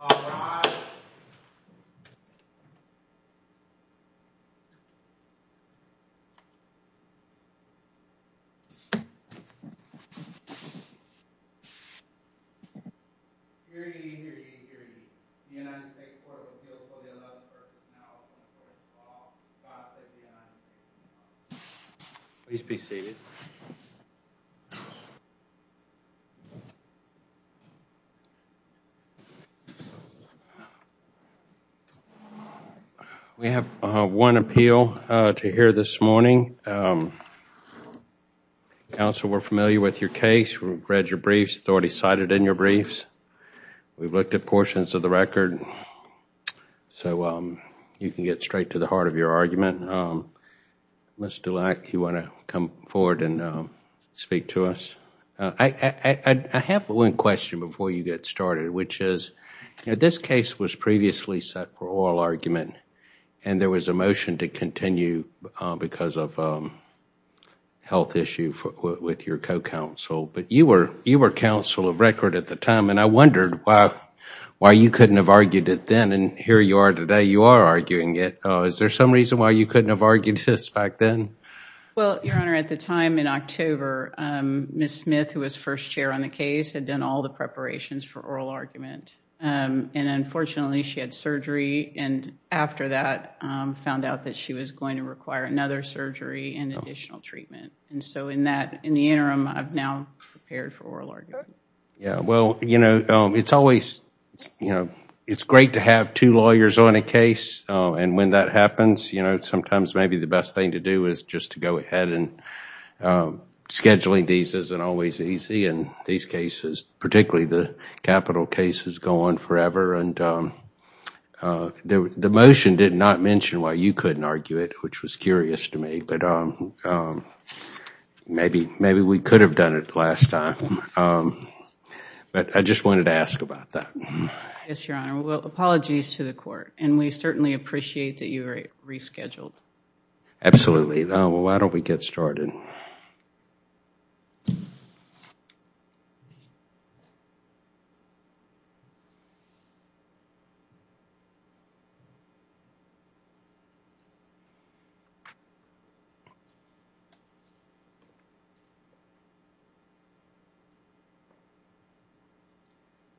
All rise. Hear ye, hear ye, hear ye. The United States Courts of Appeals will be about to start this now, and will call the class of the United States. Please be seated. We have one appeal to hear this morning. Counsel, we're familiar with your case. We've read your briefs, already cited in your briefs. We've looked at portions of the record. So you can get straight to the heart of your argument. Mr. Leck, you want to come forward and speak to us? I have one question before you get started, which is, this case was previously set for oral argument, and there was a motion to continue because of a health issue with your co-counsel. But you were counsel of record at the time, and I wondered why you couldn't have argued it then, and here you are today. You are arguing it. Is there some reason why you couldn't have argued this back then? Well, Your Honor, at the time in October, Ms. Smith, who was first chair on the case, had done all the preparations for oral argument. And unfortunately, she had surgery, and after that found out that she was going to require another surgery and additional treatment. And so in the interim, I've now prepared for oral argument. Yeah. Well, you know, it's great to have two lawyers on a case, and when that happens, you know, sometimes maybe the best thing to do is just to go ahead. And scheduling these isn't always easy in these cases, particularly the capital cases go on forever. And the motion did not mention why you couldn't argue it, which was curious to me. But maybe we could have done it last time. But I just wanted to ask about that. Yes, Your Honor. Well, apologies to the Court, and we certainly appreciate that you rescheduled. Absolutely. Well, why don't we get started.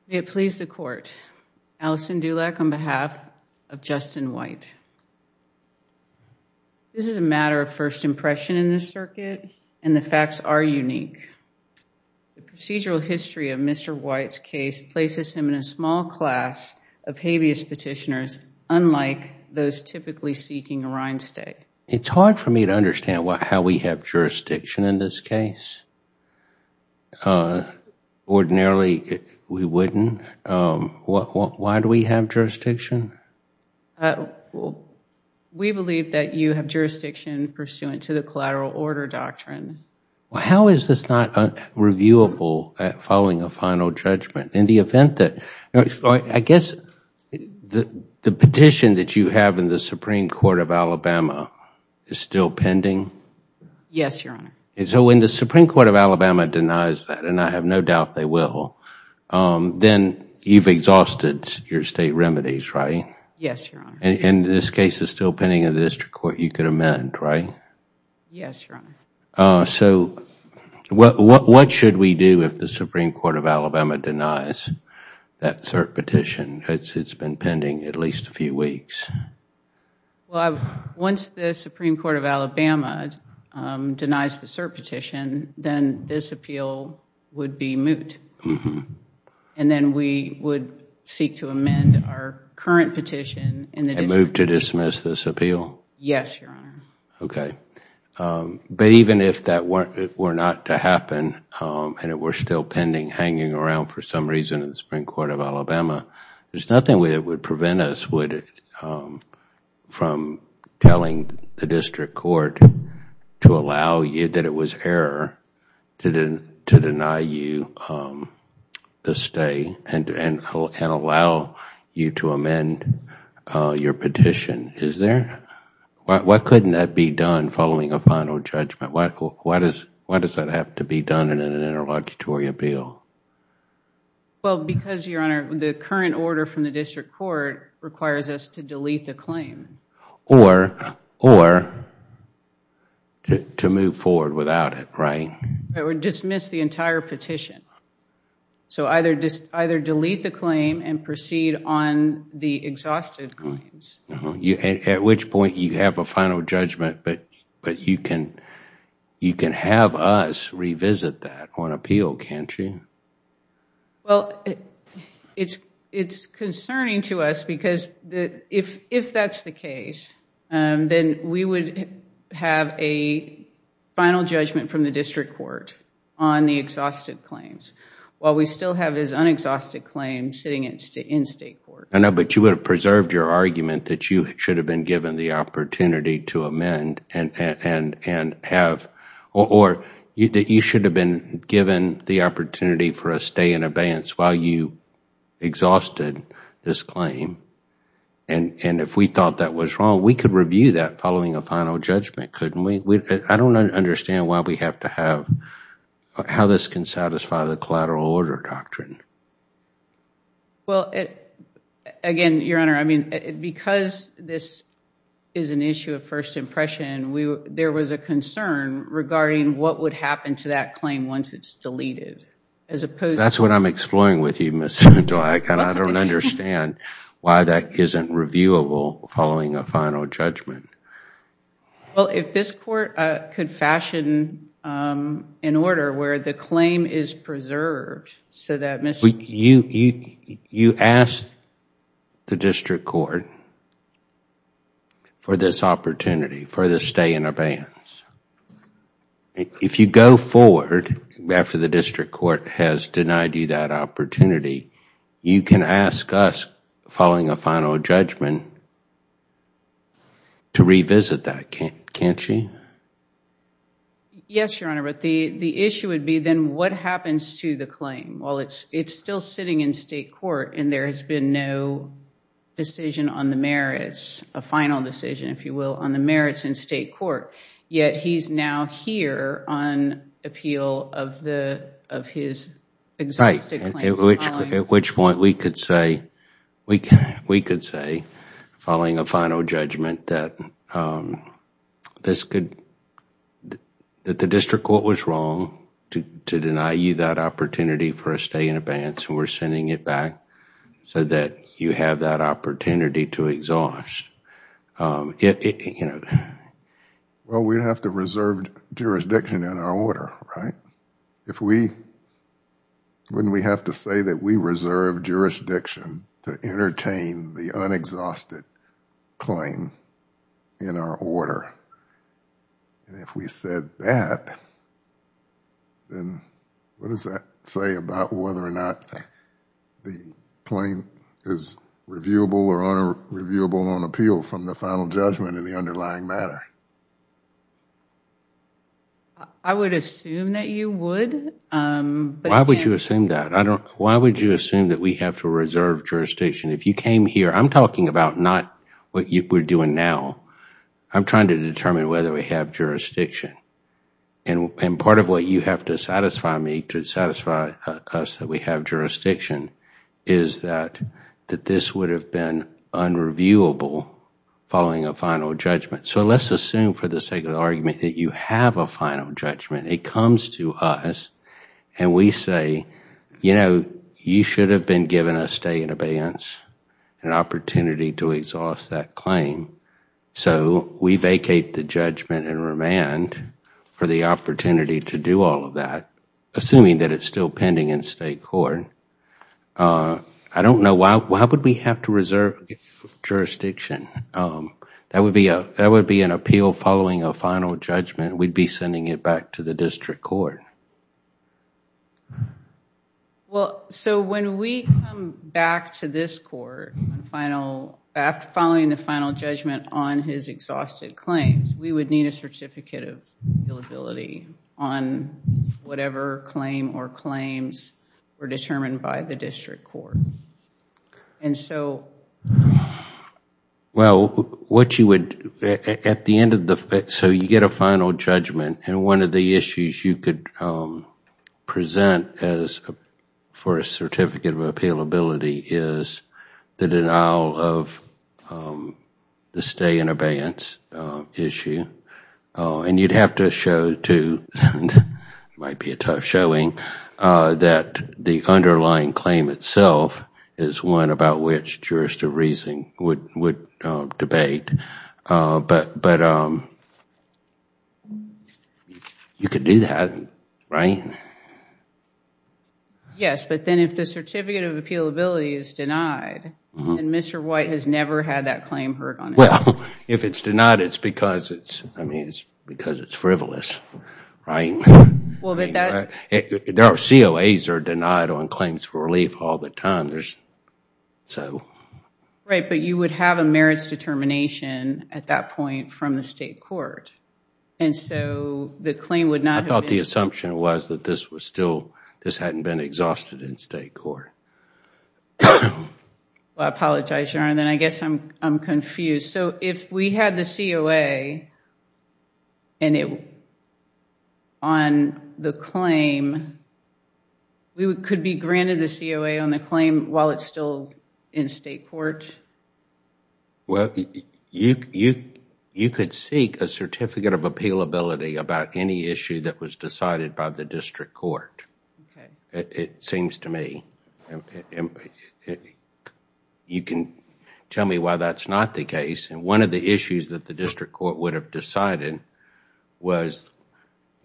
May it please the Court, Alison Dulak on behalf of Justin White. This is a matter of first impression in this circuit, and the facts are unique. The procedural history of Mr. White's case places him in a small class of habeas petitioners, unlike those typically seeking a reinstate. It's hard for me to understand how we have jurisdiction in this case. Ordinarily, we wouldn't. Why do we have jurisdiction? We believe that you have jurisdiction pursuant to the collateral order doctrine. How is this not reviewable following a final judgment? I guess the petition that you have in the Supreme Court of Alabama is still pending? Yes, Your Honor. So when the Supreme Court of Alabama denies that, and I have no doubt they will, then you've exhausted your state remedies, right? Yes, Your Honor. And this case is still pending in the district court. You could amend, right? Yes, Your Honor. So what should we do if the Supreme Court of Alabama denies that cert petition? It's been pending at least a few weeks. Well, once the Supreme Court of Alabama denies the cert petition, then this appeal would be moot. And then we would seek to amend our current petition. And move to dismiss this appeal? Yes, Your Honor. Okay. But even if that were not to happen and it were still pending, hanging around for some reason in the Supreme Court of Alabama, there's nothing that would prevent us from telling the district court that it was error to deny you the stay and allow you to amend your petition, is there? Why couldn't that be done following a final judgment? Why does that have to be done in an interlocutory appeal? Well, because, Your Honor, the current order from the district court requires us to delete the claim. Or to move forward without it, right? Or dismiss the entire petition. So either delete the claim and proceed on the exhausted claims. At which point you have a final judgment, but you can have us revisit that on appeal, can't you? Well, it's concerning to us because if that's the case, then we would have a final judgment from the district court on the exhausted claims. While we still have this unexhausted claim sitting in state court. I know, but you would have preserved your argument that you should have been given the opportunity to amend and have... Or that you should have been given the opportunity for a stay in abeyance while you exhausted this claim. And if we thought that was wrong, we could review that following a final judgment, couldn't we? I don't understand why we have to have... How this can satisfy the collateral order doctrine. Well, again, Your Honor, I mean, because this is an issue of first impression, there was a concern regarding what would happen to that claim once it's deleted, as opposed to... That's what I'm exploring with you, Ms. Dweck, and I don't understand why that isn't reviewable following a final judgment. Well, if this court could fashion an order where the claim is preserved You asked the district court for this opportunity, for the stay in abeyance. If you go forward after the district court has denied you that opportunity, you can ask us, following a final judgment, to revisit that, can't you? Yes, Your Honor, but the issue would be then what happens to the claim? Well, it's still sitting in state court, and there has been no decision on the merits, a final decision, if you will, on the merits in state court, yet he's now here on appeal of his... Right, at which point we could say, following a final judgment, that the district court was wrong to deny you that opportunity for a stay in abeyance, and we're sending it back so that you have that opportunity to exhaust. Well, we'd have to reserve jurisdiction in our order, right? If we... Wouldn't we have to say that we reserve jurisdiction to entertain the unexhausted claim in our order? If we said that, then what does that say about whether or not the claim is reviewable or unreviewable on appeal from the final judgment in the underlying matter? I would assume that you would. Why would you assume that? Why would you assume that we have to reserve jurisdiction? If you came here... I'm talking about not what we're doing now. I'm trying to determine whether we have jurisdiction. And part of what you have to satisfy me, to satisfy us that we have jurisdiction, is that this would have been unreviewable following a final judgment. So let's assume, for the sake of the argument, that you have a final judgment. It comes to us and we say, you know, you should have been given a stay in abeyance, an opportunity to exhaust that claim. So we vacate the judgment and remand for the opportunity to do all of that, assuming that it's still pending in state court. I don't know... Why would we have to reserve jurisdiction? That would be an appeal following a final judgment. We'd be sending it back to the district court. Well, so when we come back to this court, following the final judgment on his exhausted claims, we would need a certificate of billability on whatever claim or claims were determined by the district court. And so... Well, what you would... At the end of the... So you get a final judgment, and one of the issues you could present for a certificate of appealability is the denial of the stay in abeyance issue. And you'd have to show to... It might be a tough showing... that the underlying claim itself is one about which jurist of reasoning would debate. But... You could do that, right? Yes, but then if the certificate of appealability is denied, then Mr. White has never had that claim heard on it. Well, if it's denied, it's because it's frivolous, right? Well, but that... Our COAs are denied on claims for relief all the time. Right, but you would have a merits determination at that point from the state court. And so the claim would not... I thought the assumption was that this was still... this hadn't been exhausted in state court. Well, I apologize, Your Honor, then I guess I'm confused. So if we had the COA on the claim, we could be granted the COA on the claim while it's still in state court? Well, you could seek a certificate of appealability about any issue that was decided by the district court, it seems to me. You can tell me why that's not the case. One of the issues that the district court would have decided was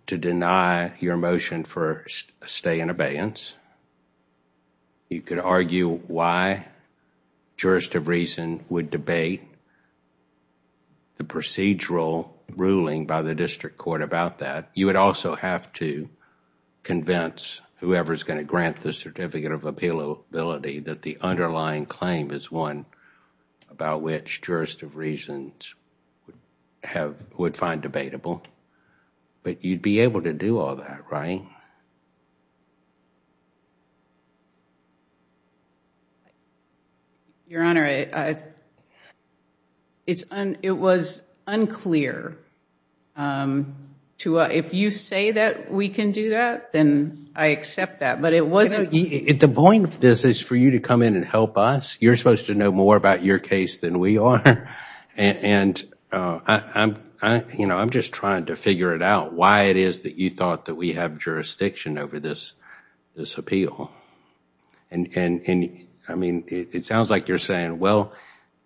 to deny your motion for a stay in abeyance. You could argue why jurist of reason would debate the procedural ruling by the district court about that. You would also have to convince whoever is going to grant the certificate of appealability that the underlying claim is one about which jurist of reasons would find debatable. But you'd be able to do all that, right? Your Honor, it was unclear. If you say that we can do that, then I accept that. But it wasn't... The point of this is for you to come in and help us. You're supposed to know more about your case than we are. I'm just trying to figure it out, why it is that you thought that we have jurisdiction over this appeal. It sounds like you're saying, well,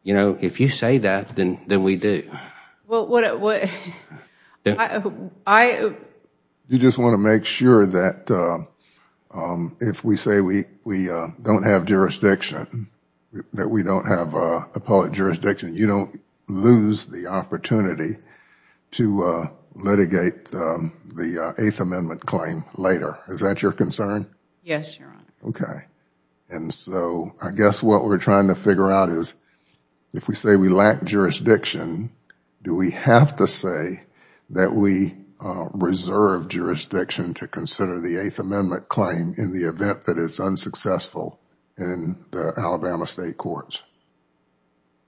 if you say that, then we do. Well, what... You just want to make sure that if we say we don't have jurisdiction, that we don't have appellate jurisdiction, you don't lose the opportunity to litigate the Eighth Amendment claim later. Is that your concern? Yes, Your Honor. Okay. I guess what we're trying to figure out is, if we say we lack jurisdiction, do we have to say that we reserve jurisdiction to consider the Eighth Amendment claim in the event that it's unsuccessful in the Alabama state courts?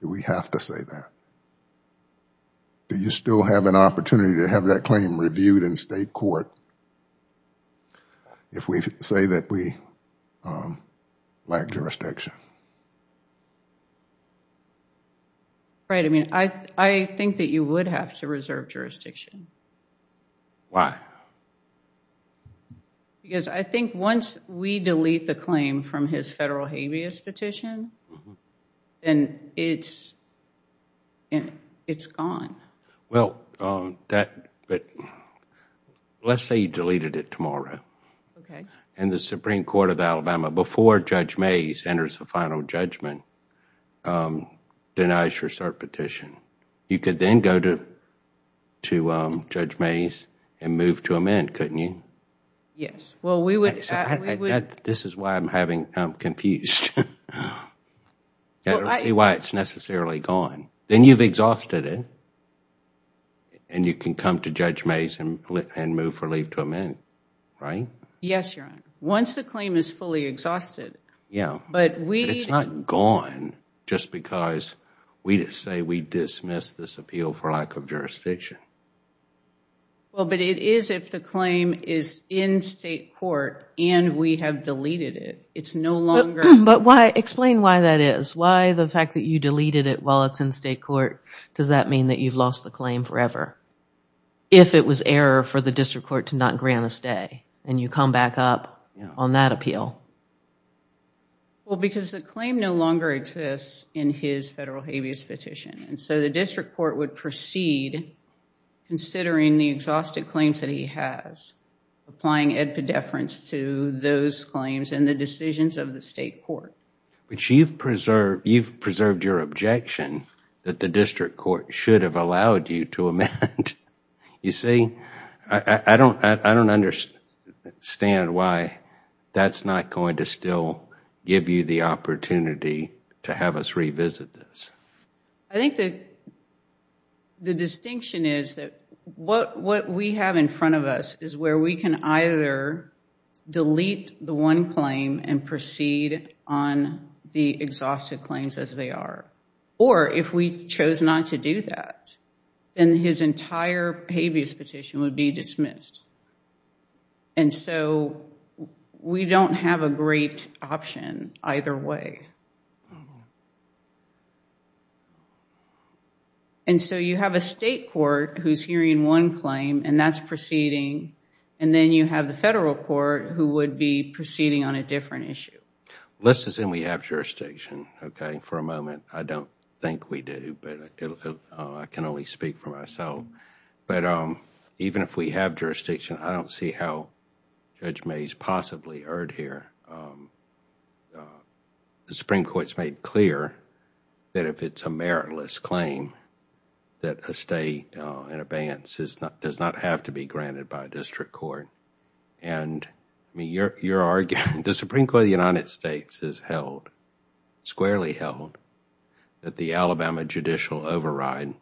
Do we have to say that? Do you still have an opportunity to have that claim reviewed in state court if we say that we lack jurisdiction? Right. I think that you would have to reserve jurisdiction. Why? Because I think once we delete the claim from his federal habeas petition, then it's gone. Well, let's say you deleted it tomorrow. And the Supreme Court of Alabama, before Judge Mays enters the final judgment, denies your cert petition. You could then go to Judge Mays and move to amend, couldn't you? Yes. Well, we would... This is why I'm having... I'm confused. I don't see why it's necessarily gone. Then you've exhausted it. And you can come to Judge Mays and move for leave to amend, right? Yes, Your Honor. Once the claim is fully exhausted. But we... It's not gone just because we say we dismiss this appeal for lack of jurisdiction. Well, but it is if the claim is in state court and we have deleted it. It's no longer... Explain why that is. Why the fact that you deleted it while it's in state court, does that mean that you've lost the claim forever? If it was error for the district court to not grant a stay, and you come back up on that appeal. Well, because the claim no longer exists in his federal habeas petition. And so the district court would proceed, considering the exhausted claims that he has, applying epidepherence to those claims and the decisions of the state court. But you've preserved your objection that the district court should have allowed you to amend. You see? I don't understand why that's not going to still give you the opportunity to have us revisit this. I think that the distinction is that what we have in front of us is where we can either delete the one claim and proceed on the exhausted claims as they are. Or if we chose not to do that, then his entire habeas petition would be dismissed. And so we don't have a great option either way. Okay. And so you have a state court who's hearing one claim, and that's proceeding. And then you have the federal court who would be proceeding on a different issue. Let's assume we have jurisdiction, okay? For a moment, I don't think we do. I can only speak for myself. But even if we have jurisdiction, I don't see how Judge Mays possibly erred here. The Supreme Court's made clear that if it's a meritless claim, that a stay in abeyance does not have to be granted by a district court. And your argument, the Supreme Court of the United States has held, squarely held, that the Alabama judicial override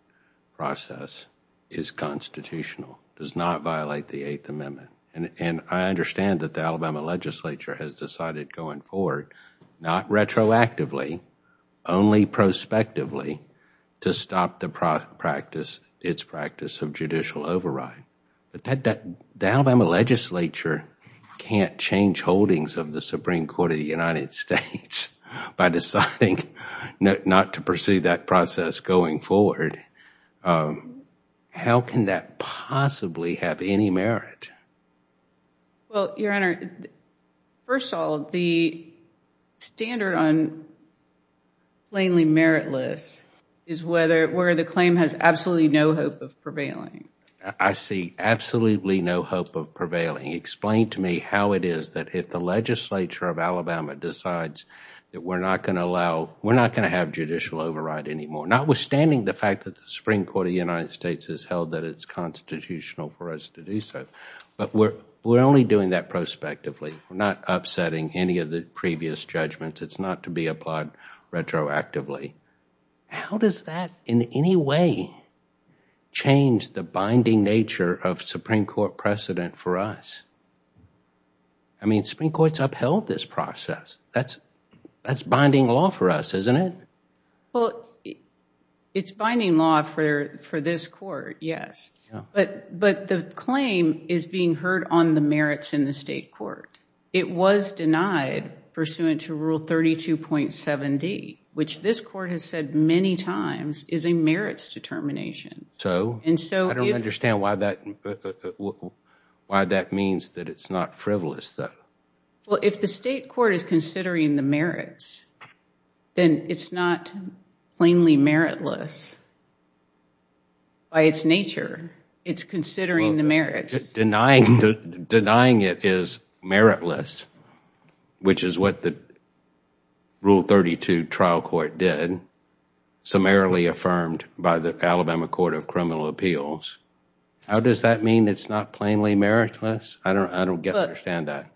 process is constitutional, does not violate the Eighth Amendment. And I understand that the Alabama legislature has decided going forward, not retroactively, only prospectively, to stop its practice of judicial override. But the Alabama legislature can't change holdings of the Supreme Court of the United States by deciding not to pursue that process going forward. How can that possibly have any merit? Well, Your Honor, first of all, the standard on plainly meritless is where the claim has absolutely no hope of prevailing. I see absolutely no hope of prevailing. Explain to me how it is that if the legislature of Alabama decides that we're not going to allow, we're not going to have judicial override anymore, notwithstanding the fact that the Supreme Court of the United States has held that it's constitutional for us to do so. But we're only doing that prospectively. We're not upsetting any of the previous judgments. It's not to be applied retroactively. How does that in any way change the binding nature of Supreme Court precedent for us? I mean, Supreme Court's upheld this process. That's binding law for us, isn't it? Well, it's binding law for this court, yes. But the claim is being heard on the merits in the state court. It was denied pursuant to Rule 32.7d, which this court has said many times is a merits determination. I don't understand why that means that it's not frivolous, though. Well, if the state court is considering the merits, then it's not plainly meritless by its nature. It's considering the merits. Denying it is meritless, which is what the Rule 32 trial court did, summarily affirmed by the Alabama Court of Criminal Appeals. How does that mean it's not plainly meritless?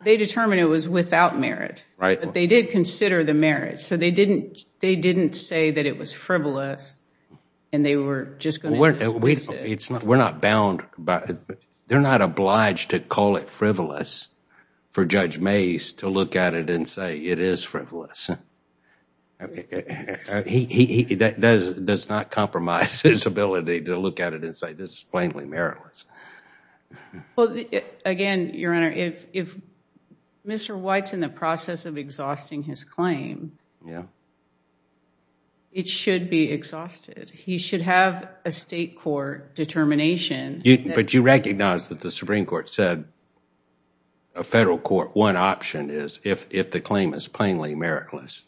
They determined it was without merit, but they did consider the merits, so they didn't say that it was frivolous and they were just going to dismiss it. They're not obliged to call it frivolous for Judge Mace to look at it and say it is frivolous. He does not compromise his ability to look at it and say this is plainly meritless. Well, again, Your Honor, if Mr. White's in the process of exhausting his claim, it should be exhausted. He should have a state court determination. But you recognize that the Supreme Court said a federal court, one option is if the claim is plainly meritless,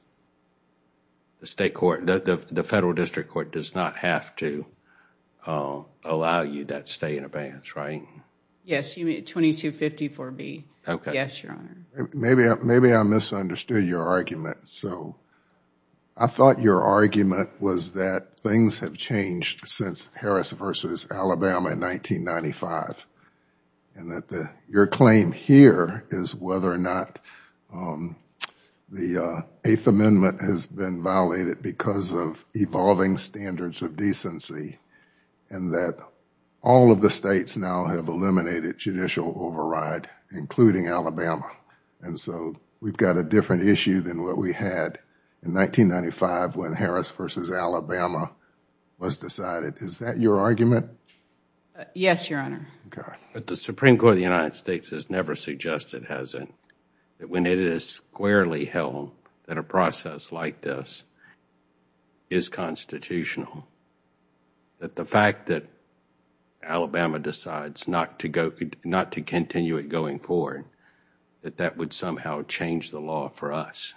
the federal district court does not have to allow you that stay in abeyance, right? Yes, 2254B. Maybe I misunderstood your argument. I thought your argument was that things have changed since Harris v. Alabama in 1995 and that your claim here is whether or not the Eighth Amendment has been violated because of evolving standards of decency and that all of the states now have eliminated judicial override, including Alabama. And so we've got a different issue than what we had in 1995 when Harris v. Alabama was decided. Is that your argument? Yes, Your Honor. But the Supreme Court of the United States has never suggested, has it, that when it is squarely held that a process like this is constitutional, that the fact that Alabama decides not to continue it going forward, that that would somehow change the law for us.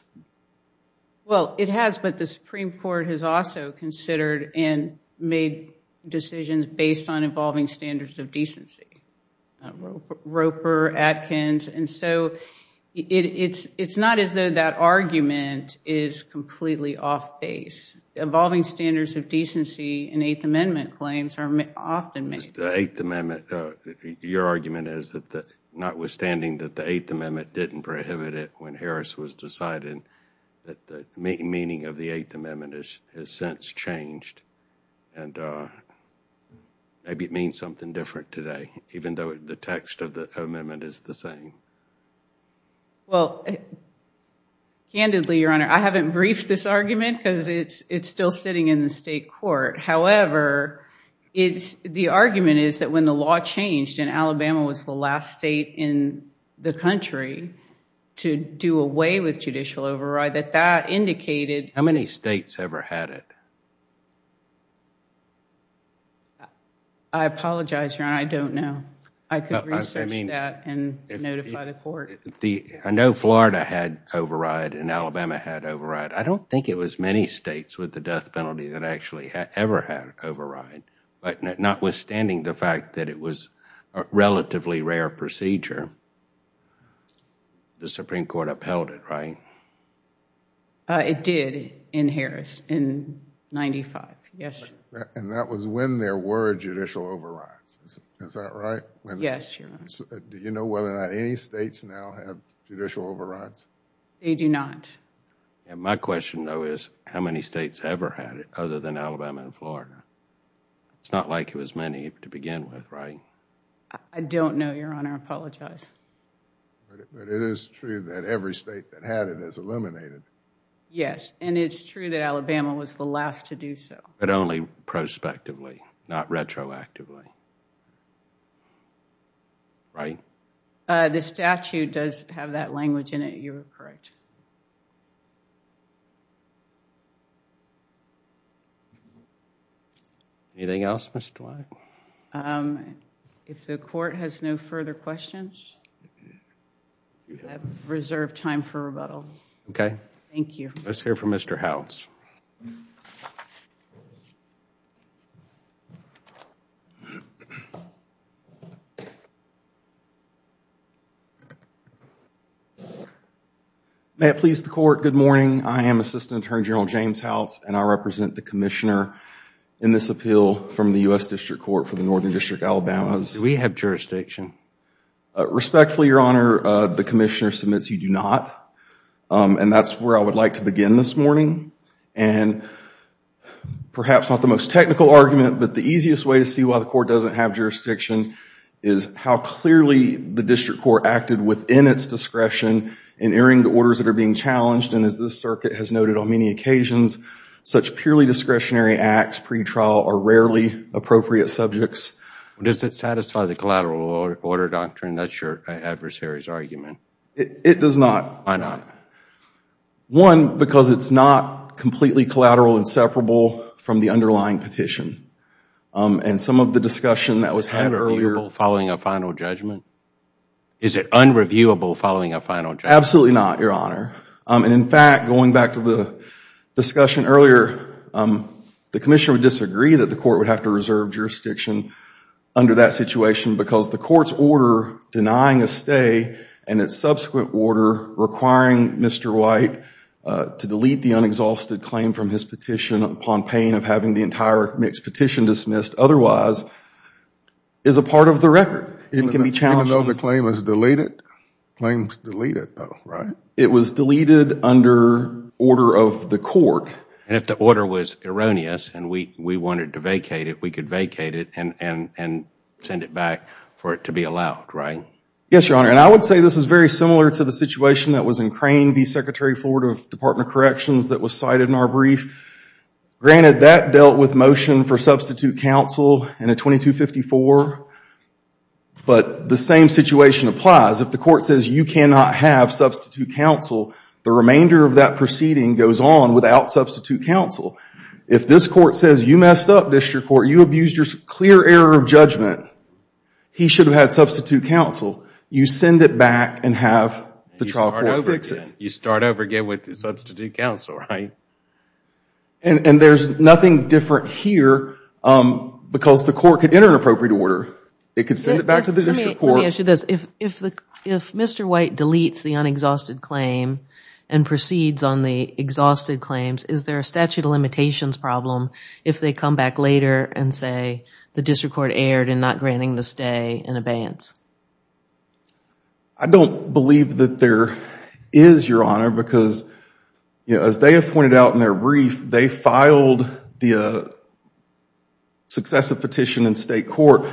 Well, it has, but the Supreme Court has also considered and made decisions based on evolving standards of decency. Roper, Atkins, and so it's not as though that argument is completely off base. Evolving standards of decency in Eighth Amendment claims are often made. The Eighth Amendment, your argument is that notwithstanding that the Eighth Amendment didn't prohibit it when Harris was decided, that the meaning of the Eighth Amendment has since changed. And maybe it means something different today, even though the text of the amendment is the same. Well, candidly, Your Honor, I haven't briefed this argument because it's still sitting in the state court. However, the argument is that when the law changed and Alabama was the last state in the country to do away with judicial override, that that indicated... How many states ever had it? I apologize, Your Honor, I don't know. I could research that and notify the court. I know Florida had override and Alabama had override. I don't think it was many states with the death penalty that actually ever had override. But notwithstanding the fact that it was a relatively rare procedure, the Supreme Court upheld it, right? It did in Harris in 1995, yes. And that was when there were judicial overrides, is that right? Yes, Your Honor. Do you know whether or not any states now have judicial overrides? They do not. My question, though, is how many states ever had it other than Alabama and Florida? It's not like it was many to begin with, right? I don't know, Your Honor. I apologize. But it is true that every state that had it is eliminated. Yes, and it's true that Alabama was the last to do so. But only prospectively, not retroactively, right? The statute does have that language in it. You are correct. Anything else, Ms. Dwight? If the court has no further questions, we have reserved time for rebuttal. Okay. Thank you. Let's hear from Mr. Howells. May it please the court, good morning. I am Assistant Attorney General James Howells, and I represent the Commissioner in this appeal from the U.S. District Court for the Northern District of Alabama. Do we have jurisdiction? Respectfully, Your Honor, the Commissioner submits you do not. And that's where I would like to begin this morning. And perhaps not the most technical argument, but the easiest way to see why the court doesn't have jurisdiction is how clearly the District Court acted within its discretion in hearing the orders that are being challenged. And as this circuit has noted on many occasions, such purely discretionary acts pre-trial are rarely appropriate subjects. Does it satisfy the collateral order doctrine? That's your adversary's argument. It does not. Why not? One, because it's not completely collateral and separable from the underlying petition. And some of the discussion that was had earlier Is it unreviewable following a final judgment? Is it unreviewable following a final judgment? Absolutely not, Your Honor. And in fact, going back to the discussion earlier, the Commissioner would disagree that the court would have to reserve jurisdiction under that situation because the court's order denying a stay and its subsequent order requiring Mr. White to delete the unexhausted claim from his petition upon pain of having the entire mixed petition dismissed otherwise is a part of the record. It can be challenged. Even though the claim is deleted? The claim is deleted, though, right? It was deleted under order of the court. And if the order was erroneous and we wanted to vacate it, we could vacate it and send it back for it to be allowed, right? Yes, Your Honor. And I would say this is very similar to the situation that was in Crane v. Secretary Ford of Department of Corrections that was cited in our brief. Granted, that dealt with motion for substitute counsel in a 2254, but the same situation applies. If the court says you cannot have substitute counsel, the remainder of that proceeding goes on without substitute counsel. If this court says you messed up, District Court, you abused your clear error of judgment, he should have had substitute counsel, you send it back and have the trial court fix it. You start over again with substitute counsel, right? And there's nothing different here because the court could enter an appropriate order. It could send it back to the District Court. Let me ask you this. If Mr. White deletes the unexhausted claim and proceeds on the exhausted claims, is there a statute of limitations problem if they come back later and say the District Court erred in not granting the stay and abeyance? I don't believe that there is, Your Honor, because as they have pointed out in their brief, they filed the successive petition in state court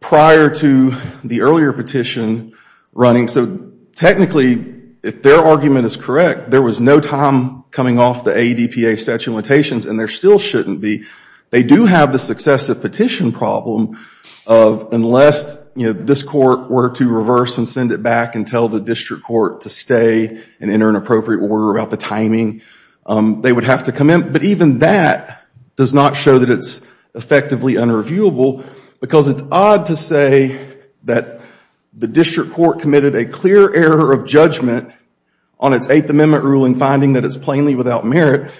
prior to the earlier petition running. So technically, if their argument is correct, there was no time coming off the ADPA statute of limitations, and there still shouldn't be. They do have the successive petition problem of unless this court were to reverse and send it back and tell the District Court to stay and enter an appropriate order about the timing, they would have to come in. But even that does not show that it's effectively unreviewable because it's odd to say that the District Court committed a clear error of judgment on its Eighth Amendment ruling, finding that it's plainly without merit,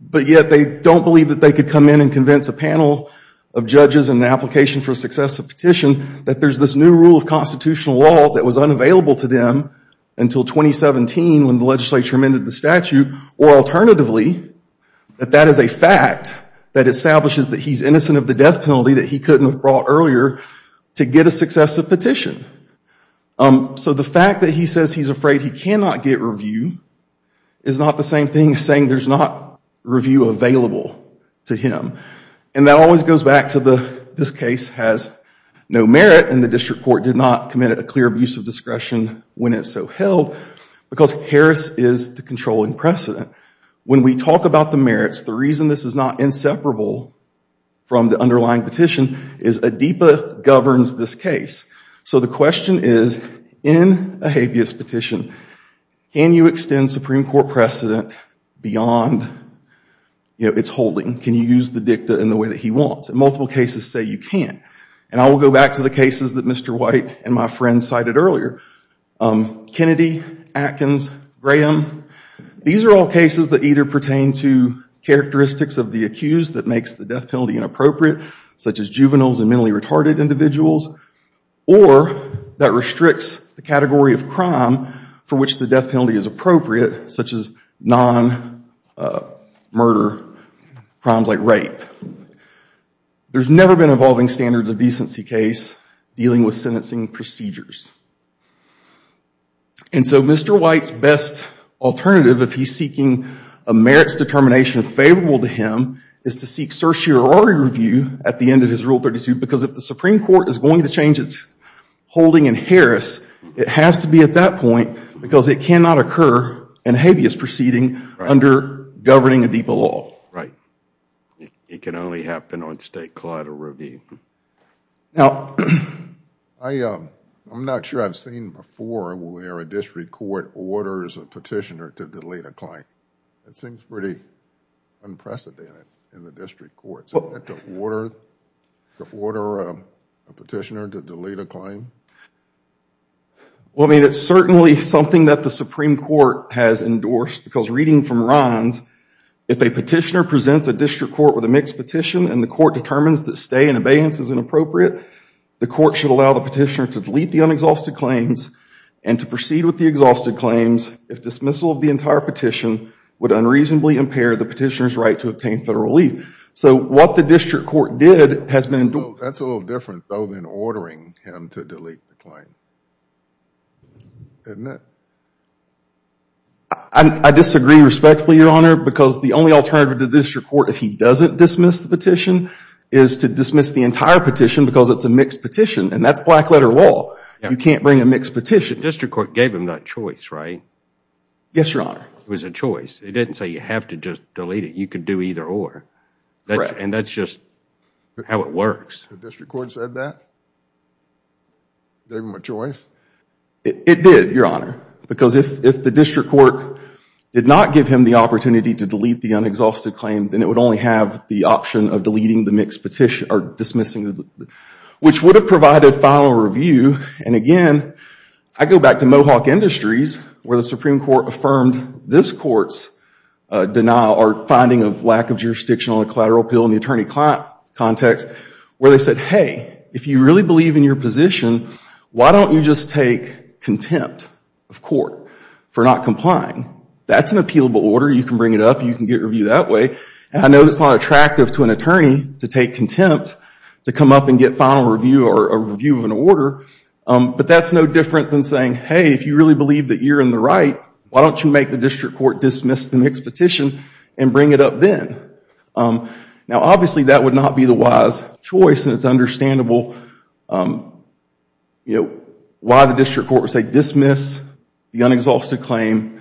but yet they don't believe that they could come in and convince a panel of judges in an application for a successive petition that there's this new rule of constitutional law that was unavailable to them until 2017 when the legislature amended the statute, or alternatively, that that is a fact that establishes that he's innocent of the death penalty that he couldn't have brought earlier to get a successive petition. So the fact that he says he's afraid he cannot get review is not the same thing as saying there's not review available to him. And that always goes back to this case has no merit, and the District Court did not commit a clear abuse of discretion when it's so held, because Harris is the controlling precedent. When we talk about the merits, the reason this is not inseparable from the underlying petition is ADIPA governs this case. So the question is, in a habeas petition, can you extend Supreme Court precedent beyond its holding? Can you use the dicta in the way that he wants? Multiple cases say you can't. And I will go back to the cases that Mr. White and my friend cited earlier. Kennedy, Atkins, Graham, these are all cases that either pertain to characteristics of the accused that makes the death penalty inappropriate, such as juveniles and mentally retarded individuals, or that restricts the category of crime for which the death penalty is appropriate, such as non-murder crimes like rape. There's never been evolving standards of decency case dealing with sentencing procedures. And so Mr. White's best alternative, if he's seeking a merits determination favorable to him, is to seek certiorari review at the end of his Rule 32, because if the Supreme Court is going to change its holding in Harris, it has to be at that point, because it cannot occur in a habeas proceeding under governing ADIPA law. Right. It can only happen on state collateral review. Now, I'm not sure I've seen before where a district court orders a petitioner to delete a claim. That seems pretty unprecedented in the district courts. To order a petitioner to delete a claim? Well, I mean, it's certainly something that the Supreme Court has endorsed, because reading from Rahn's, if a petitioner presents a district court with a mixed petition and the court determines that stay in abeyance is inappropriate, the court should allow the petitioner to delete the unexhausted claims and to proceed with the exhausted claims if dismissal of the entire petition would unreasonably impair the petitioner's right to obtain federal relief. So what the district court did has been endorsed. That's a little different, though, than ordering him to delete the claim. Isn't it? I disagree respectfully, Your Honor, because the only alternative to the district court, if he doesn't dismiss the petition, is to dismiss the entire petition because it's a mixed petition. And that's black letter law. You can't bring a mixed petition. The district court gave him that choice, right? Yes, Your Honor. It was a choice. It didn't say you have to just delete it. You can do either or. And that's just how it works. The district court said that? Gave him a choice? It did, Your Honor, because if the district court did not give him the opportunity to delete the unexhausted claim, then it would only have the option of deleting the mixed petition or dismissing the, which would have provided final review. And again, I go back to Mohawk Industries where the Supreme Court affirmed this court's denial or finding of lack of jurisdictional and collateral appeal in the attorney-client context where they said, hey, if you really believe in your position, why don't you just take contempt of court for not complying? That's an appealable order. You can bring it up. You can get review that way. And I know that's not attractive to an attorney to take contempt to come up and get final review or a review of an order. But that's no different than saying, hey, if you really believe that you're in the right, why don't you make the district court dismiss the mixed petition and bring it up then? Now, obviously, that would not be the wise choice. And it's understandable why the district court would say dismiss the unexhausted claim.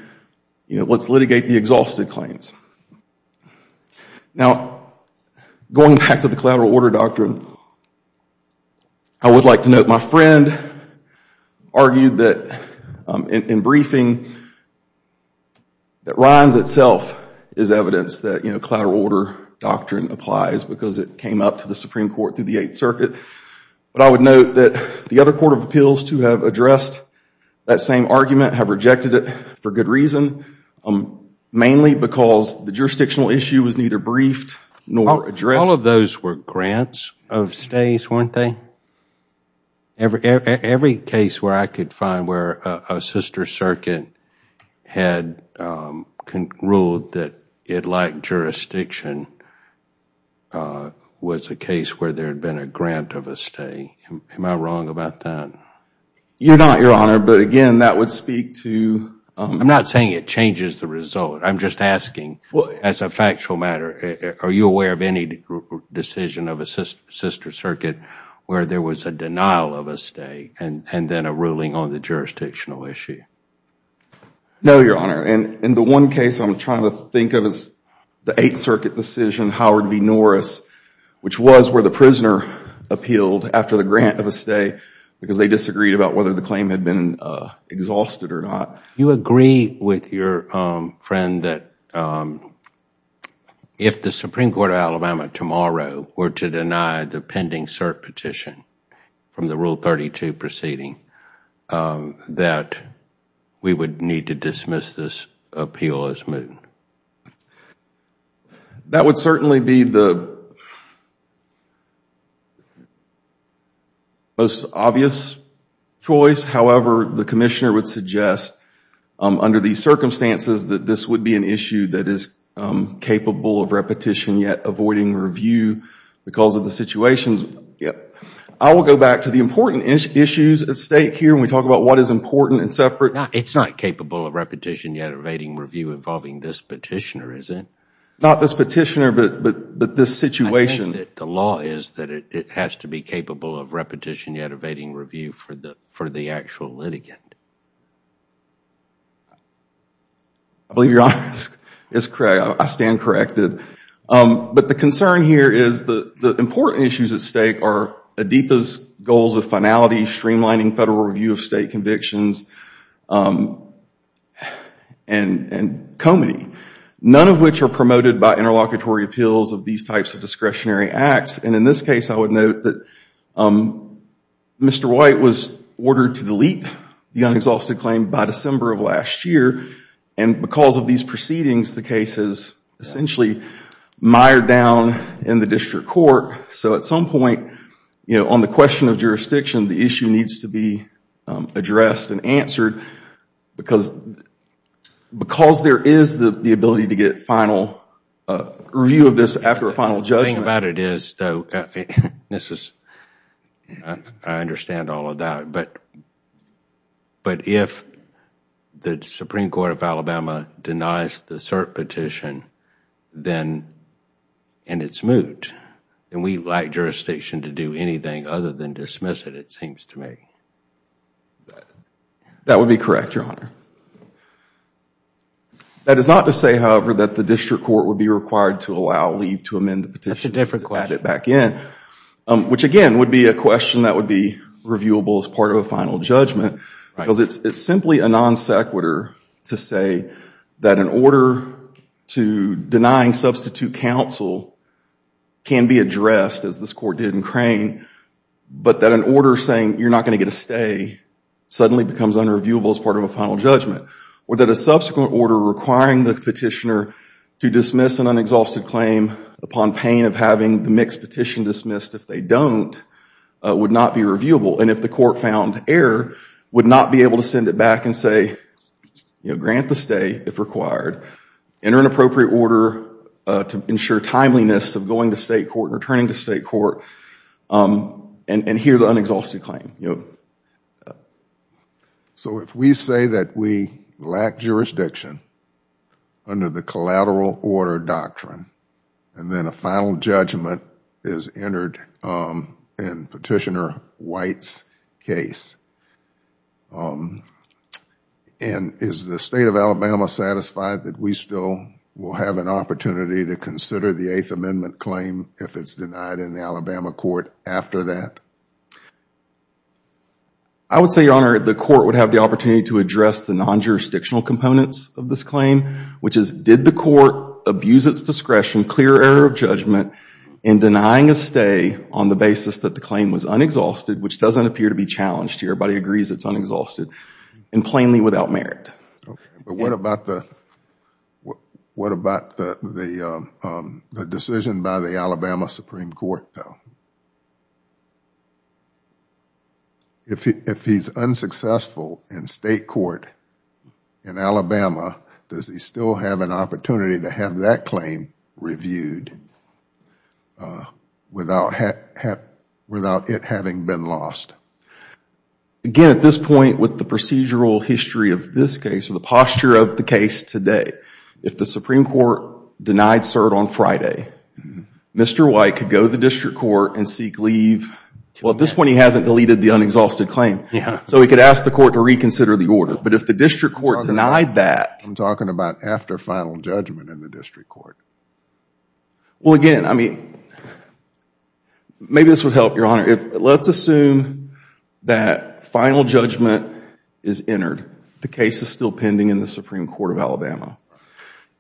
Let's litigate the exhausted claims. Now, going back to the collateral order doctrine, I would like to note my friend argued that in briefing that Rhines itself is evidence that collateral order doctrine applies because it came up to the Supreme Court through the Eighth Circuit. But I would note that the other court of appeals, too, have addressed that same argument, have rejected it for good reason, mainly because the jurisdictional issue was neither briefed nor addressed. All of those were grants of stays, weren't they? Every case where I could find where a sister circuit had ruled that it lacked jurisdiction was a case where there had been a grant of a stay. Am I wrong about that? You're not, Your Honor. But again, that would speak to I'm not saying it changes the result. I'm just asking as a factual matter, are you aware of any decision of a sister circuit where there was a denial of a stay and then a ruling on the jurisdictional issue? No, Your Honor. In the one case I'm trying to think of is the Eighth Circuit decision, Howard v. Norris, which was where the prisoner appealed after the grant of a stay because they disagreed about whether the claim had been exhausted or not. Do you agree with your friend that if the Supreme Court of Alabama tomorrow were to deny the pending cert petition from the Rule 32 proceeding, that we would need to dismiss this appeal as moot? That would certainly be the most obvious choice. However, the Commissioner would suggest under these circumstances that this would be an issue that is capable of repetition yet avoiding review because of the situations. I will go back to the important issues at stake here when we talk about what is important and separate. It's not capable of repetition yet evading review involving this petitioner, is it? Not this petitioner, but this situation. I think that the law is that it has to be capable of repetition yet evading review for the actual litigant. I believe your answer is correct. I stand corrected. The concern here is the important issues at stake are ADIPA's goals of finality, streamlining federal review of state convictions, and comity, none of which are promoted by interlocutory appeals of these types of discretionary acts. In this case, I would note that Mr. White was ordered to delete the unexalted claim by December of last year. Because of these proceedings, the case is essentially mired down in the district court. At some point, on the question of jurisdiction, the issue needs to be addressed and answered because there is the ability to get final review of this after a final judgment. I understand all of that, but if the Supreme Court of Alabama denies the cert petition, then it's moot. We like jurisdiction to do anything other than dismiss it, it seems to me. That would be correct, Your Honor. That is not to say, however, that the district court would be required to allow leave to amend the petition to add it back in. Which, again, would be a question that would be reviewable as part of a final judgment. Because it's simply a non sequitur to say that an order to denying substitute counsel can be addressed, as this court did in Crane, but that an order saying you're not going to get a stay suddenly becomes unreviewable as part of a final judgment. Or that a subsequent order requiring the petitioner to dismiss an unexhausted claim upon pain of having the mixed petition dismissed, if they don't, would not be reviewable. And if the court found error, would not be able to send it back and say, grant the stay if required. Enter an appropriate order to ensure timeliness of going to state court and returning to state court and hear the unexhausted claim. If we say that we lack jurisdiction under the collateral order doctrine, and then a final judgment is entered in Petitioner White's case, and is the State of Alabama satisfied that we still will have an opportunity to consider the Eighth Amendment claim if it's denied in the Alabama court after that? I would say, Your Honor, the court would have the opportunity to address the non-jurisdictional components of this claim, which is, did the court abuse its discretion, clear error of judgment, in denying a stay on the basis that the claim was unexhausted, which doesn't appear to be challenged here. Everybody agrees it's unexhausted, and plainly without merit. But what about the decision by the Alabama Supreme Court, though? If he's unsuccessful in state court in Alabama, does he still have an opportunity to have that claim reviewed without it having been lost? Again, at this point, with the procedural history of this case, with the posture of the case today, if the Supreme Court denied cert on Friday, Mr. Petitioner would go to the district court and seek leave... Well, at this point, he hasn't deleted the unexhausted claim, so he could ask the court to reconsider the order. But if the district court denied that... I'm talking about after final judgment in the district court. Well, again, maybe this would help, Your Honor. Let's assume that final judgment is entered. The case is still pending in the Supreme Court of Alabama.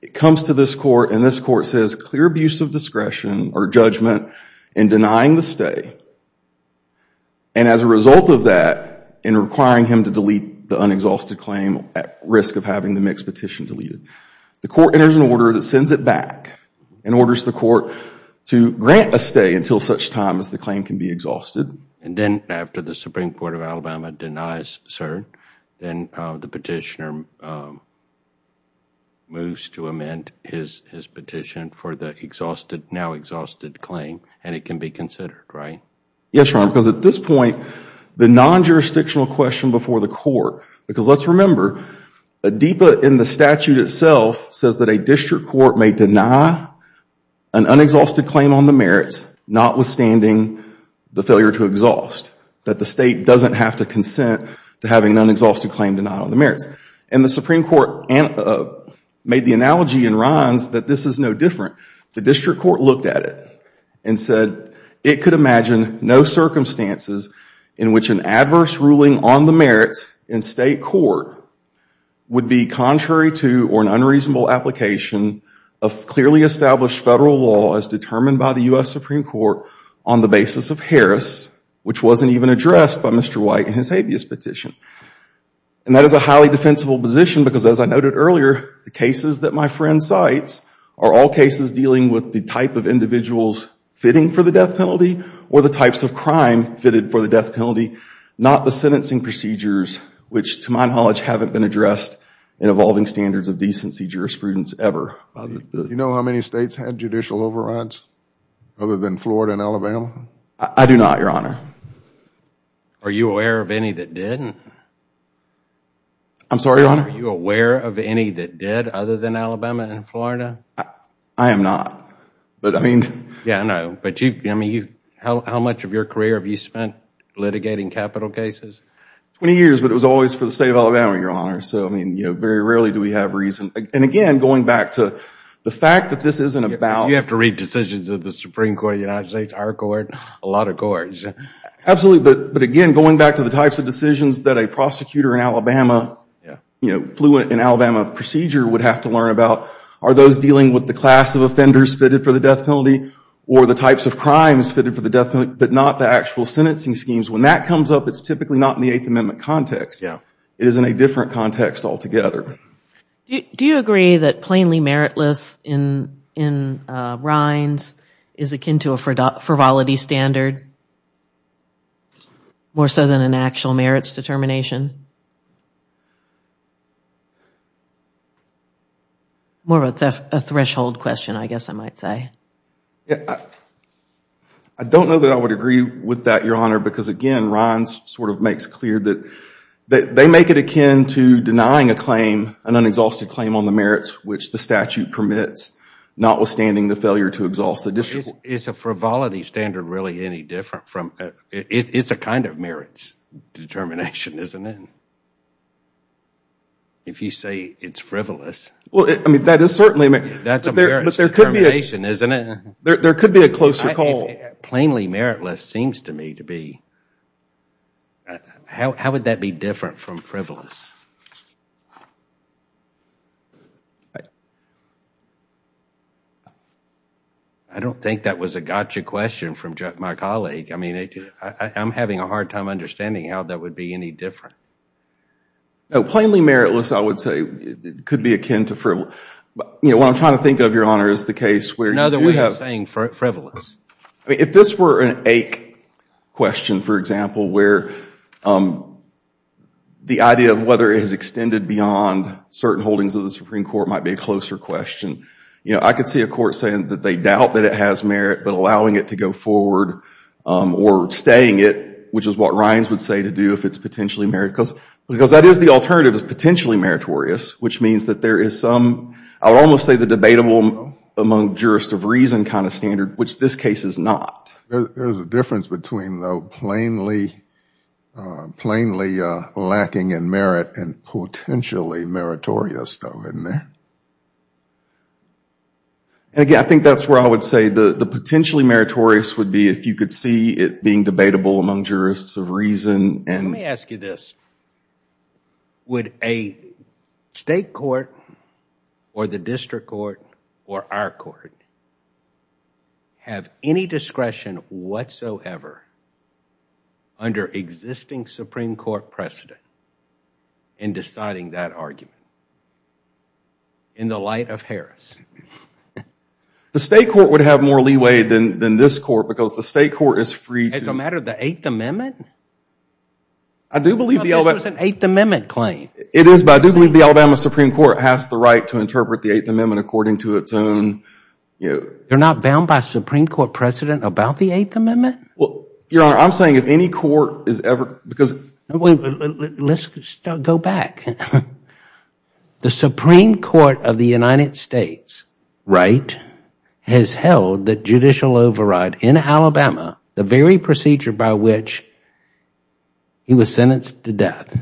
It comes to this court, and this court says, clear abuse of discretion or judgment in denying the stay, and as a result of that, in requiring him to delete the unexhausted claim at risk of having the mixed petition deleted. The court enters an order that sends it back and orders the court to grant a stay until such time as the claim can be exhausted. And then after the Supreme Court of Alabama denies cert, then the petitioner moves to amend his petition for the now exhausted claim, and it can be considered, right? Yes, Your Honor, because at this point, the non-jurisdictional question before the court... because let's remember, ADEPA in the statute itself says that a district court may deny an unexhausted claim on the merits, notwithstanding the failure to exhaust, that the State doesn't have to consent to having an unexhausted claim denied on the merits. And the Supreme Court made the analogy in Rhines that this is no different. The district court looked at it and said it could imagine no circumstances in which an adverse ruling on the merits in state court would be contrary to or an unreasonable application of clearly established federal law as determined by the U.S. Supreme Court on the basis of Harris, which wasn't even addressed by Mr. White in his habeas petition. And that is a highly defensible position because, as I noted earlier, the cases that my friend cites are all cases dealing with the type of individuals fitting for the death penalty or the types of crime fitted for the death penalty, not the sentencing procedures, which to my knowledge haven't been addressed in evolving standards of decency jurisprudence ever. Do you know how many states had judicial overrides other than Florida and Alabama? I do not, Your Honor. Are you aware of any that didn't? I'm sorry, Your Honor? Are you aware of any that did other than Alabama and Florida? I am not. Yeah, I know. But how much of your career have you spent litigating capital cases? Twenty years, but it was always for the state of Alabama, Your Honor. So, I mean, very rarely do we have reason. And, again, going back to the fact that this isn't about You have to read decisions of the Supreme Court of the United States, our Absolutely, but, again, going back to the types of decisions that a prosecutor in Alabama, you know, fluent in Alabama procedure would have to learn about, are those dealing with the class of offenders fitted for the death penalty or the types of crimes fitted for the death penalty, but not the actual sentencing schemes? When that comes up, it's typically not in the Eighth Amendment context. It is in a different context altogether. Do you agree that plainly meritless in Rhines is akin to a frivolity standard, more so than an actual merits determination? More of a threshold question, I guess I might say. I don't know that I would agree with that, Your Honor, because, again, Rhines sort of makes clear that they make it akin to denying a claim, an unexhausted claim on the merits which the statute permits, notwithstanding the failure to exhaust the district court. Is a frivolity standard really any different from It's a kind of merits determination, isn't it? If you say it's frivolous. Well, I mean, that is certainly a merits determination, isn't it? There could be a closer call. Plainly meritless seems to me to be How would that be different from frivolous? I don't think that was a gotcha question from my colleague. I'm having a hard time understanding how that would be any different. Plainly meritless, I would say, could be akin to frivolous. What I'm trying to think of, Your Honor, is the case where If this were an ache question, for example, where the idea of whether it is extended beyond certain holdings of the Supreme Court might be a closer question. I could see a court saying that they doubt that it has merit, but allowing it to go forward or staying it, which is what Rhines would say to do if it's potentially merit, because that is the alternative is potentially meritorious, which means that there is some, I would almost say the debatable among jurists of reason kind of standard, which this case is not. There is a difference between plainly lacking in merit and potentially meritorious, though, isn't there? Again, I think that's where I would say the potentially meritorious would be if you could see it being debatable among jurists of reason. Let me ask you this. Would a state court or the district court or our court have any discretion whatsoever under existing Supreme Court precedent in deciding that argument in the light of Harris? The state court would have more leeway than this court because the state court is free to Is this a matter of the Eighth Amendment? This was an Eighth Amendment claim. It is, but I do believe the Alabama Supreme Court has the right to interpret the Eighth Amendment according to its own... You're not bound by Supreme Court precedent about the Eighth Amendment? Your Honor, I'm saying if any court is ever... Let's go back. The Supreme Court of the United States has held that judicial override in Alabama, the very procedure by which he was sentenced to death,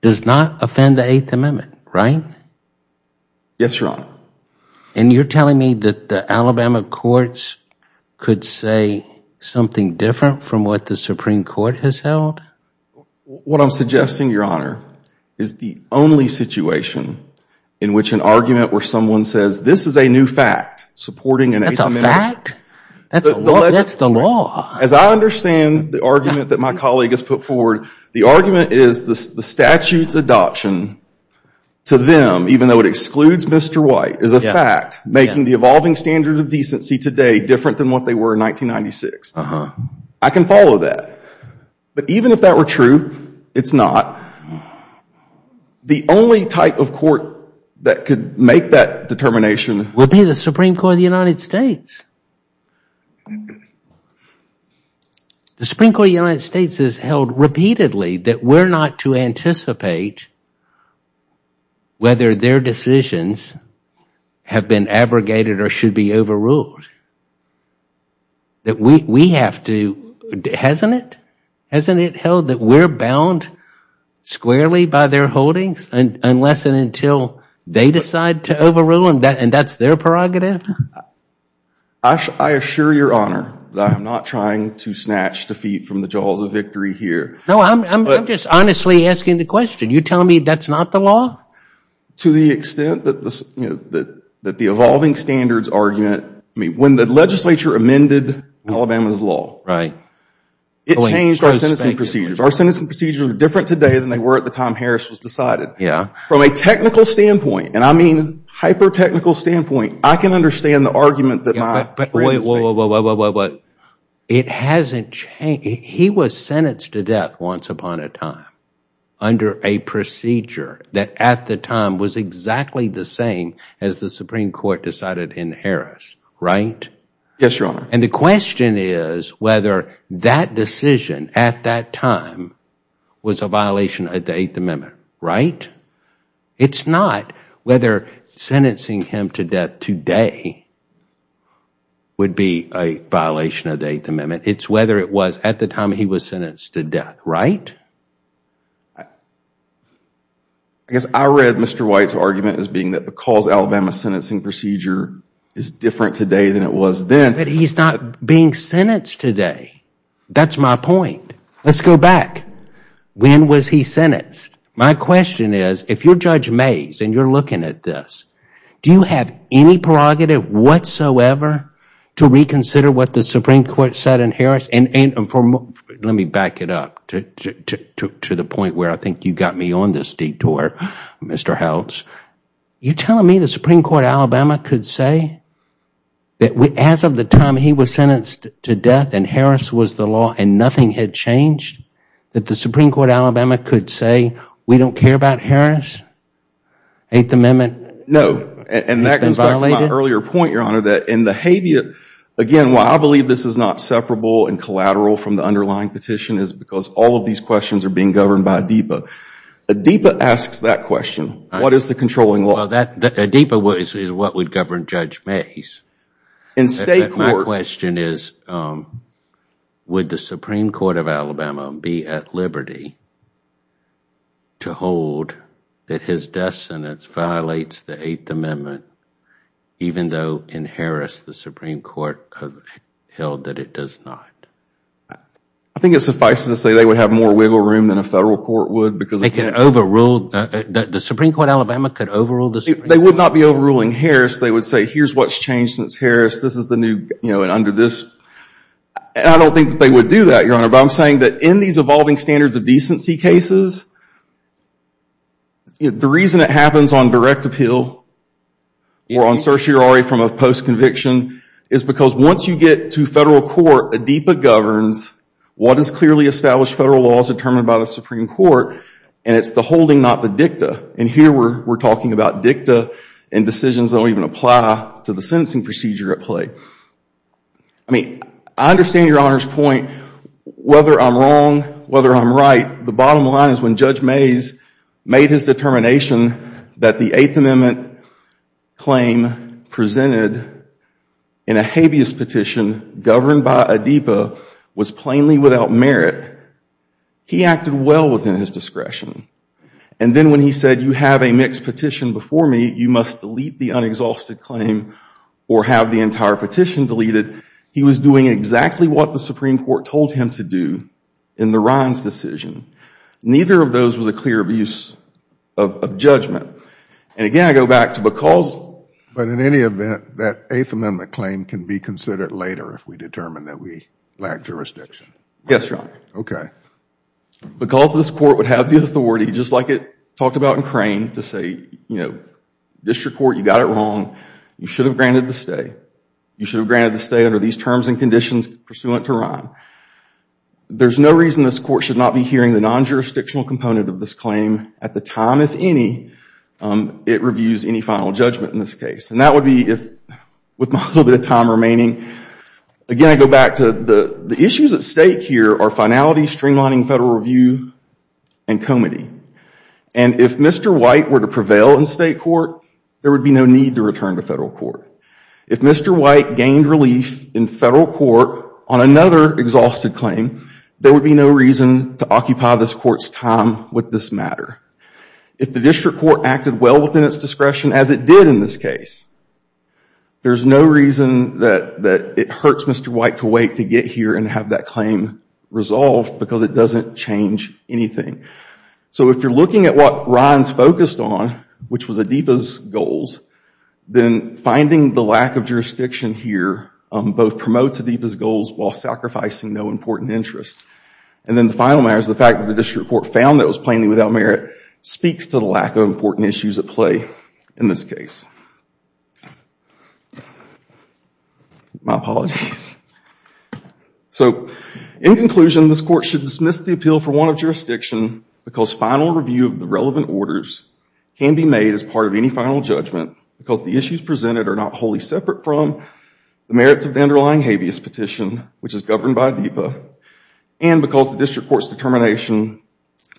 does not offend the Eighth Amendment, right? Yes, Your Honor. And you're telling me that the Alabama courts could say something different from what the Supreme Court has held? What I'm suggesting, Your Honor, is the only situation in which an argument where someone says this is a new fact supporting an Eighth Amendment... That's the law. As I understand the argument that my colleague has put forward, the argument is the statute's adoption to them, even though it excludes Mr. White, is a fact making the evolving standards of decency today different than what they were in 1996. I can follow that. But even if that were true, it's not. The only type of court that could make that determination... would be the Supreme Court of the United States. The Supreme Court of the United States has held repeatedly that we're not to anticipate whether their decisions have been abrogated or should be overruled. That we have to... Hasn't it? Hasn't it held that we're bound squarely by their holdings unless and until they decide to overrule and that's their prerogative? I assure Your Honor that I'm not trying to snatch defeat from the jaws of victory here. No, I'm just honestly asking the question. You're telling me that's not the law? To the extent that the evolving standards argument... When the legislature amended Alabama's law, it changed our sentencing procedures. Our sentencing procedures are different today than they were at the time Harris was decided. Yeah. From a technical standpoint, and I mean hyper-technical standpoint, I can understand the argument that my friends... Wait, wait, wait. It hasn't changed. He was sentenced to death once upon a time under a procedure that at the time was exactly the same as the Supreme Court decided in Harris, right? Yes, Your Honor. And the question is whether that decision at that time was a violation of the Eighth Amendment, right? It's not whether sentencing him to death today would be a violation of the Eighth Amendment. It's whether it was at the time he was sentenced to death, right? I guess I read Mr. White's argument as being that because Alabama's sentencing procedure is different today than it was then... But he's not being sentenced today. That's my point. Let's go back. When was he sentenced? My question is, if you're Judge Mays and you're looking at this, do you have any prerogative whatsoever to reconsider what the Supreme Court said in Harris? And let me back it up to the point where I think you got me on this detour, Mr. Howells. You're telling me the Supreme Court of Alabama could say that as of the time he was sentenced to death and Harris was the law and nothing had changed, that the Supreme Court of Alabama could say, we don't care about Harris? Eighth Amendment has been violated? No, and that goes back to my earlier point, Your Honor, that in the habeas, again, why I believe this is not separable and collateral from the underlying petition is because all of these questions are being governed by ADEPA. ADEPA asks that question. What is the controlling law? ADEPA is what would govern Judge Mays. My question is, would the Supreme Court of Alabama be at liberty to hold that his death sentence violates the Eighth Amendment even though in Harris the Supreme Court held that it does not? I think it suffices to say they would have more wiggle room than a federal court would. The Supreme Court of Alabama could overrule the Supreme Court? They would not be overruling Harris. They would say, here's what's changed since Harris. This is the new, and under this. I don't think that they would do that, Your Honor, but I'm saying that in these evolving standards of decency cases, the reason it happens on direct appeal or on certiorari from a post-conviction is because once you get to federal court, ADEPA governs what is clearly established federal law as determined by the Supreme Court, and it's the holding, not the dicta. And here we're talking about dicta and decisions that don't even apply to the sentencing procedure at play. I mean, I understand Your Honor's point, whether I'm wrong, whether I'm right. The bottom line is when Judge Mays made his determination that the Eighth Amendment claim presented in a habeas petition governed by ADEPA was plainly without merit, he acted well within his discretion. And then when he said, you have a mixed petition before me, you must delete the unexhausted claim or have the entire petition deleted, he was doing exactly what the Supreme Court told him to do in the Rhines decision. Neither of those was a clear abuse of judgment. And again, I go back to because... But in any event, that Eighth Amendment claim can be considered later if we determine that we lack jurisdiction. Yes, Your Honor. Okay. Because this court would have the authority, just like it talked about in Crane, to say, you know, district court, you got it wrong, you should have granted the stay. You should have granted the stay under these terms and conditions pursuant to Rhine. There's no reason this court should not be hearing the non-jurisdictional component of this claim at the time, if any, it reviews any final judgment in this case. And that would be if... With my little bit of time remaining, again, I go back to the issues at stake here are finality, streamlining federal review, and comity. And if Mr. White were to prevail in state court, there would be no need to return to federal court. If Mr. White gained relief in federal court on another exhausted claim, there would be no reason to occupy this court's time with this matter. If the district court acted well within its discretion, as it did in this case, there's no reason that it hurts Mr. White to wait to get here and have that claim resolved because it doesn't change anything. So if you're looking at what Rhine's focused on, which was Adipa's goals, then finding the lack of jurisdiction here both promotes Adipa's goals while sacrificing no important interest. And then the final matter is the fact that the district court found that it was plainly without merit speaks to the lack of important issues at play in this case. My apologies. So in conclusion, this court should dismiss the appeal for want of jurisdiction because final review of the relevant orders can be made as part of any final judgment because the issues presented are not wholly separate from the merits of the underlying habeas petition, which is governed by Adipa, and because the district court's determination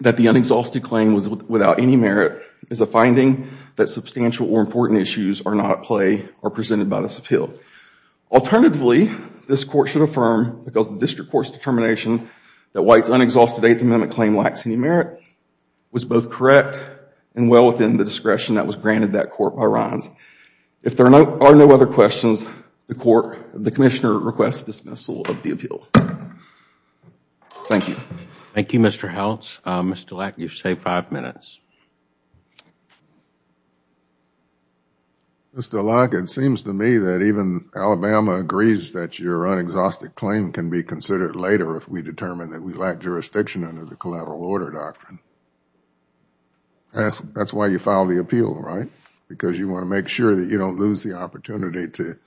that the unexhausted claim was without any merit is a finding that substantial or important issues are not at play or presented by this appeal. Alternatively, this court should affirm because the district court's determination that White's unexhausted Eighth Amendment claim lacks any merit was both correct and well within the discretion that was granted that court by Rhine's. If there are no other questions, the commissioner requests dismissal of the appeal. Thank you. Thank you, Mr. Howells. Mr. Leck, you've saved five minutes. Mr. Leck, it seems to me that even Alabama agrees that your unexhausted claim can be considered later if we determine that we lack jurisdiction under the collateral order doctrine. That's why you filed the appeal, right? Because you want to make sure that you don't lose the opportunity to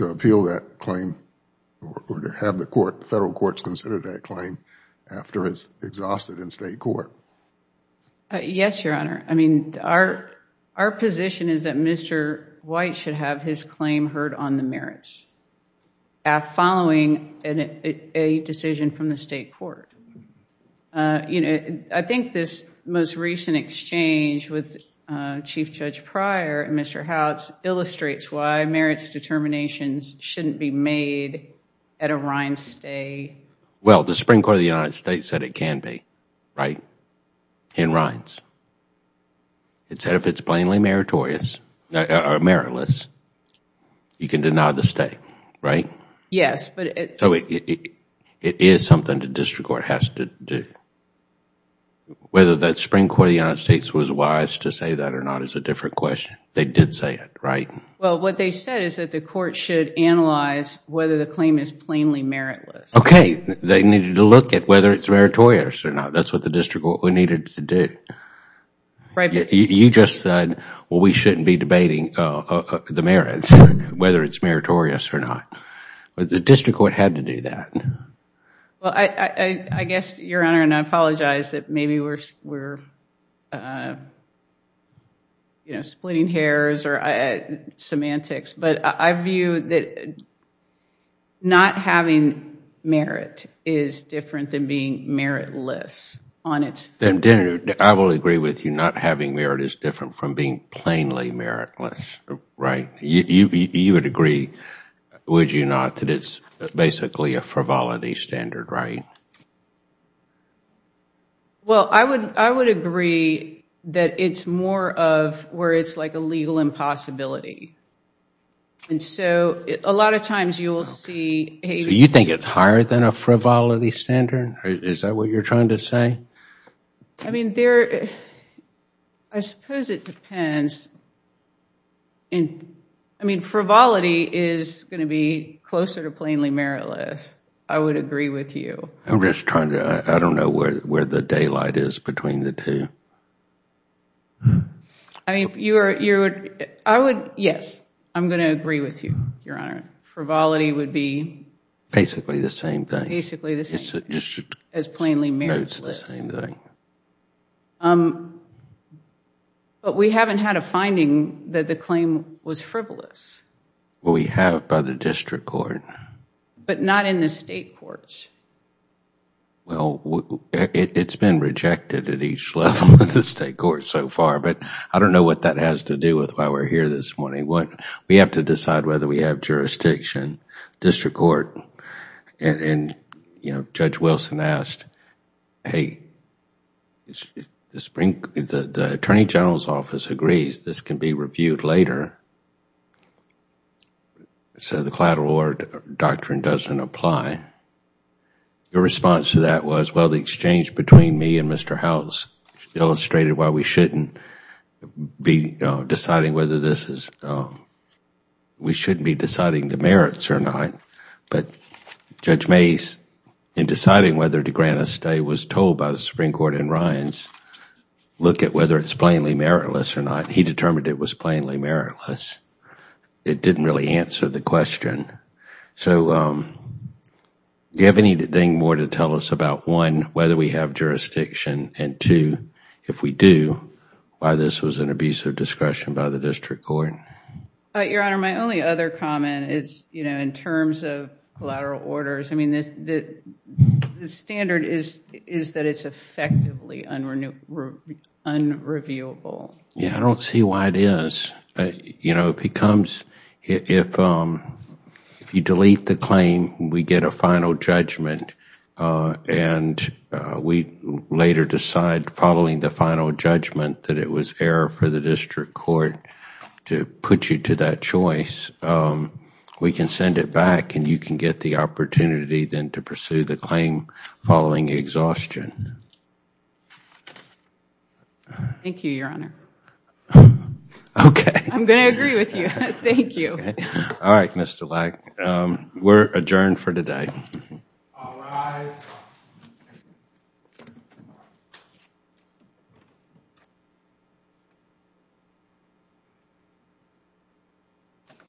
appeal that claim or to have the federal courts consider that claim after it's exhausted in state court. Yes, Your Honor. I mean, our position is that Mr. White should have his claim heard on the merits following a decision from the state court. I think this most recent exchange with Chief Judge Pryor and Mr. Howells illustrates why merits determinations shouldn't be made at a Rhine stay. Well, the Supreme Court of the United States said it can be, right, in Rhines. It said if it's plainly meritless, you can deny the stay, right? Yes. So it is something the district court has to do. Whether the Supreme Court of the United States was wise to say that or not is a different question. They did say it, right? Well, what they said is that the court should analyze whether the claim is plainly meritless. Okay. They needed to look at whether it's meritorious or not. That's what the district court needed to do. You just said, well, we shouldn't be debating the merits, whether it's meritorious or not. The district court had to do that. Well, I guess, Your Honor, and I apologize that maybe we're splitting hairs or semantics, but I view that not having merit is different than being meritless on its own. I will agree with you. Not having merit is different from being plainly meritless, right? You would agree, would you not, that it's basically a frivolity standard, right? Well, I would agree that it's more of where it's like a legal impossibility. And so a lot of times you will see a... A frivolity standard? Is that what you're trying to say? I mean, there... I suppose it depends. I mean, frivolity is going to be closer to plainly meritless. I would agree with you. I'm just trying to... I don't know where the daylight is between the two. I mean, I would... Yes, I'm going to agree with you, Your Honor. Frivolity would be... Basically the same thing. Basically the same. As plainly meritless. It's the same thing. But we haven't had a finding that the claim was frivolous. Well, we have by the district court. But not in the state courts. Well, it's been rejected at each level of the state court so far, but I don't know what that has to do with why we're here this morning. We have to decide whether we have jurisdiction, district court. And Judge Wilson asked, hey, the Attorney General's office agrees this can be reviewed later. So the collateral order doctrine doesn't apply. Your response to that was, well, the exchange between me and Mr. House illustrated why we shouldn't be deciding whether this is... We shouldn't be deciding the merits or not. But Judge Mase, in deciding whether to grant a stay, was told by the Supreme Court in Rynes, look at whether it's plainly meritless or not. He determined it was plainly meritless. It didn't really answer the question. So do you have anything more to tell us about, one, whether we have jurisdiction, and two, if we do, why this was an abuse of discretion by the district court? Your Honor, my only other comment is in terms of collateral orders, the standard is that it's effectively unreviewable. Yeah, I don't see why it is. It becomes, if you delete the claim, we get a final judgment and we later decide following the final judgment that it was error for the district court to put you to that choice, we can send it back and you can get the opportunity then to pursue the claim following exhaustion. Thank you, Your Honor. Okay. I'm going to agree with you. Thank you. Okay. All right, Mr. Leck, we're adjourned for today. All rise.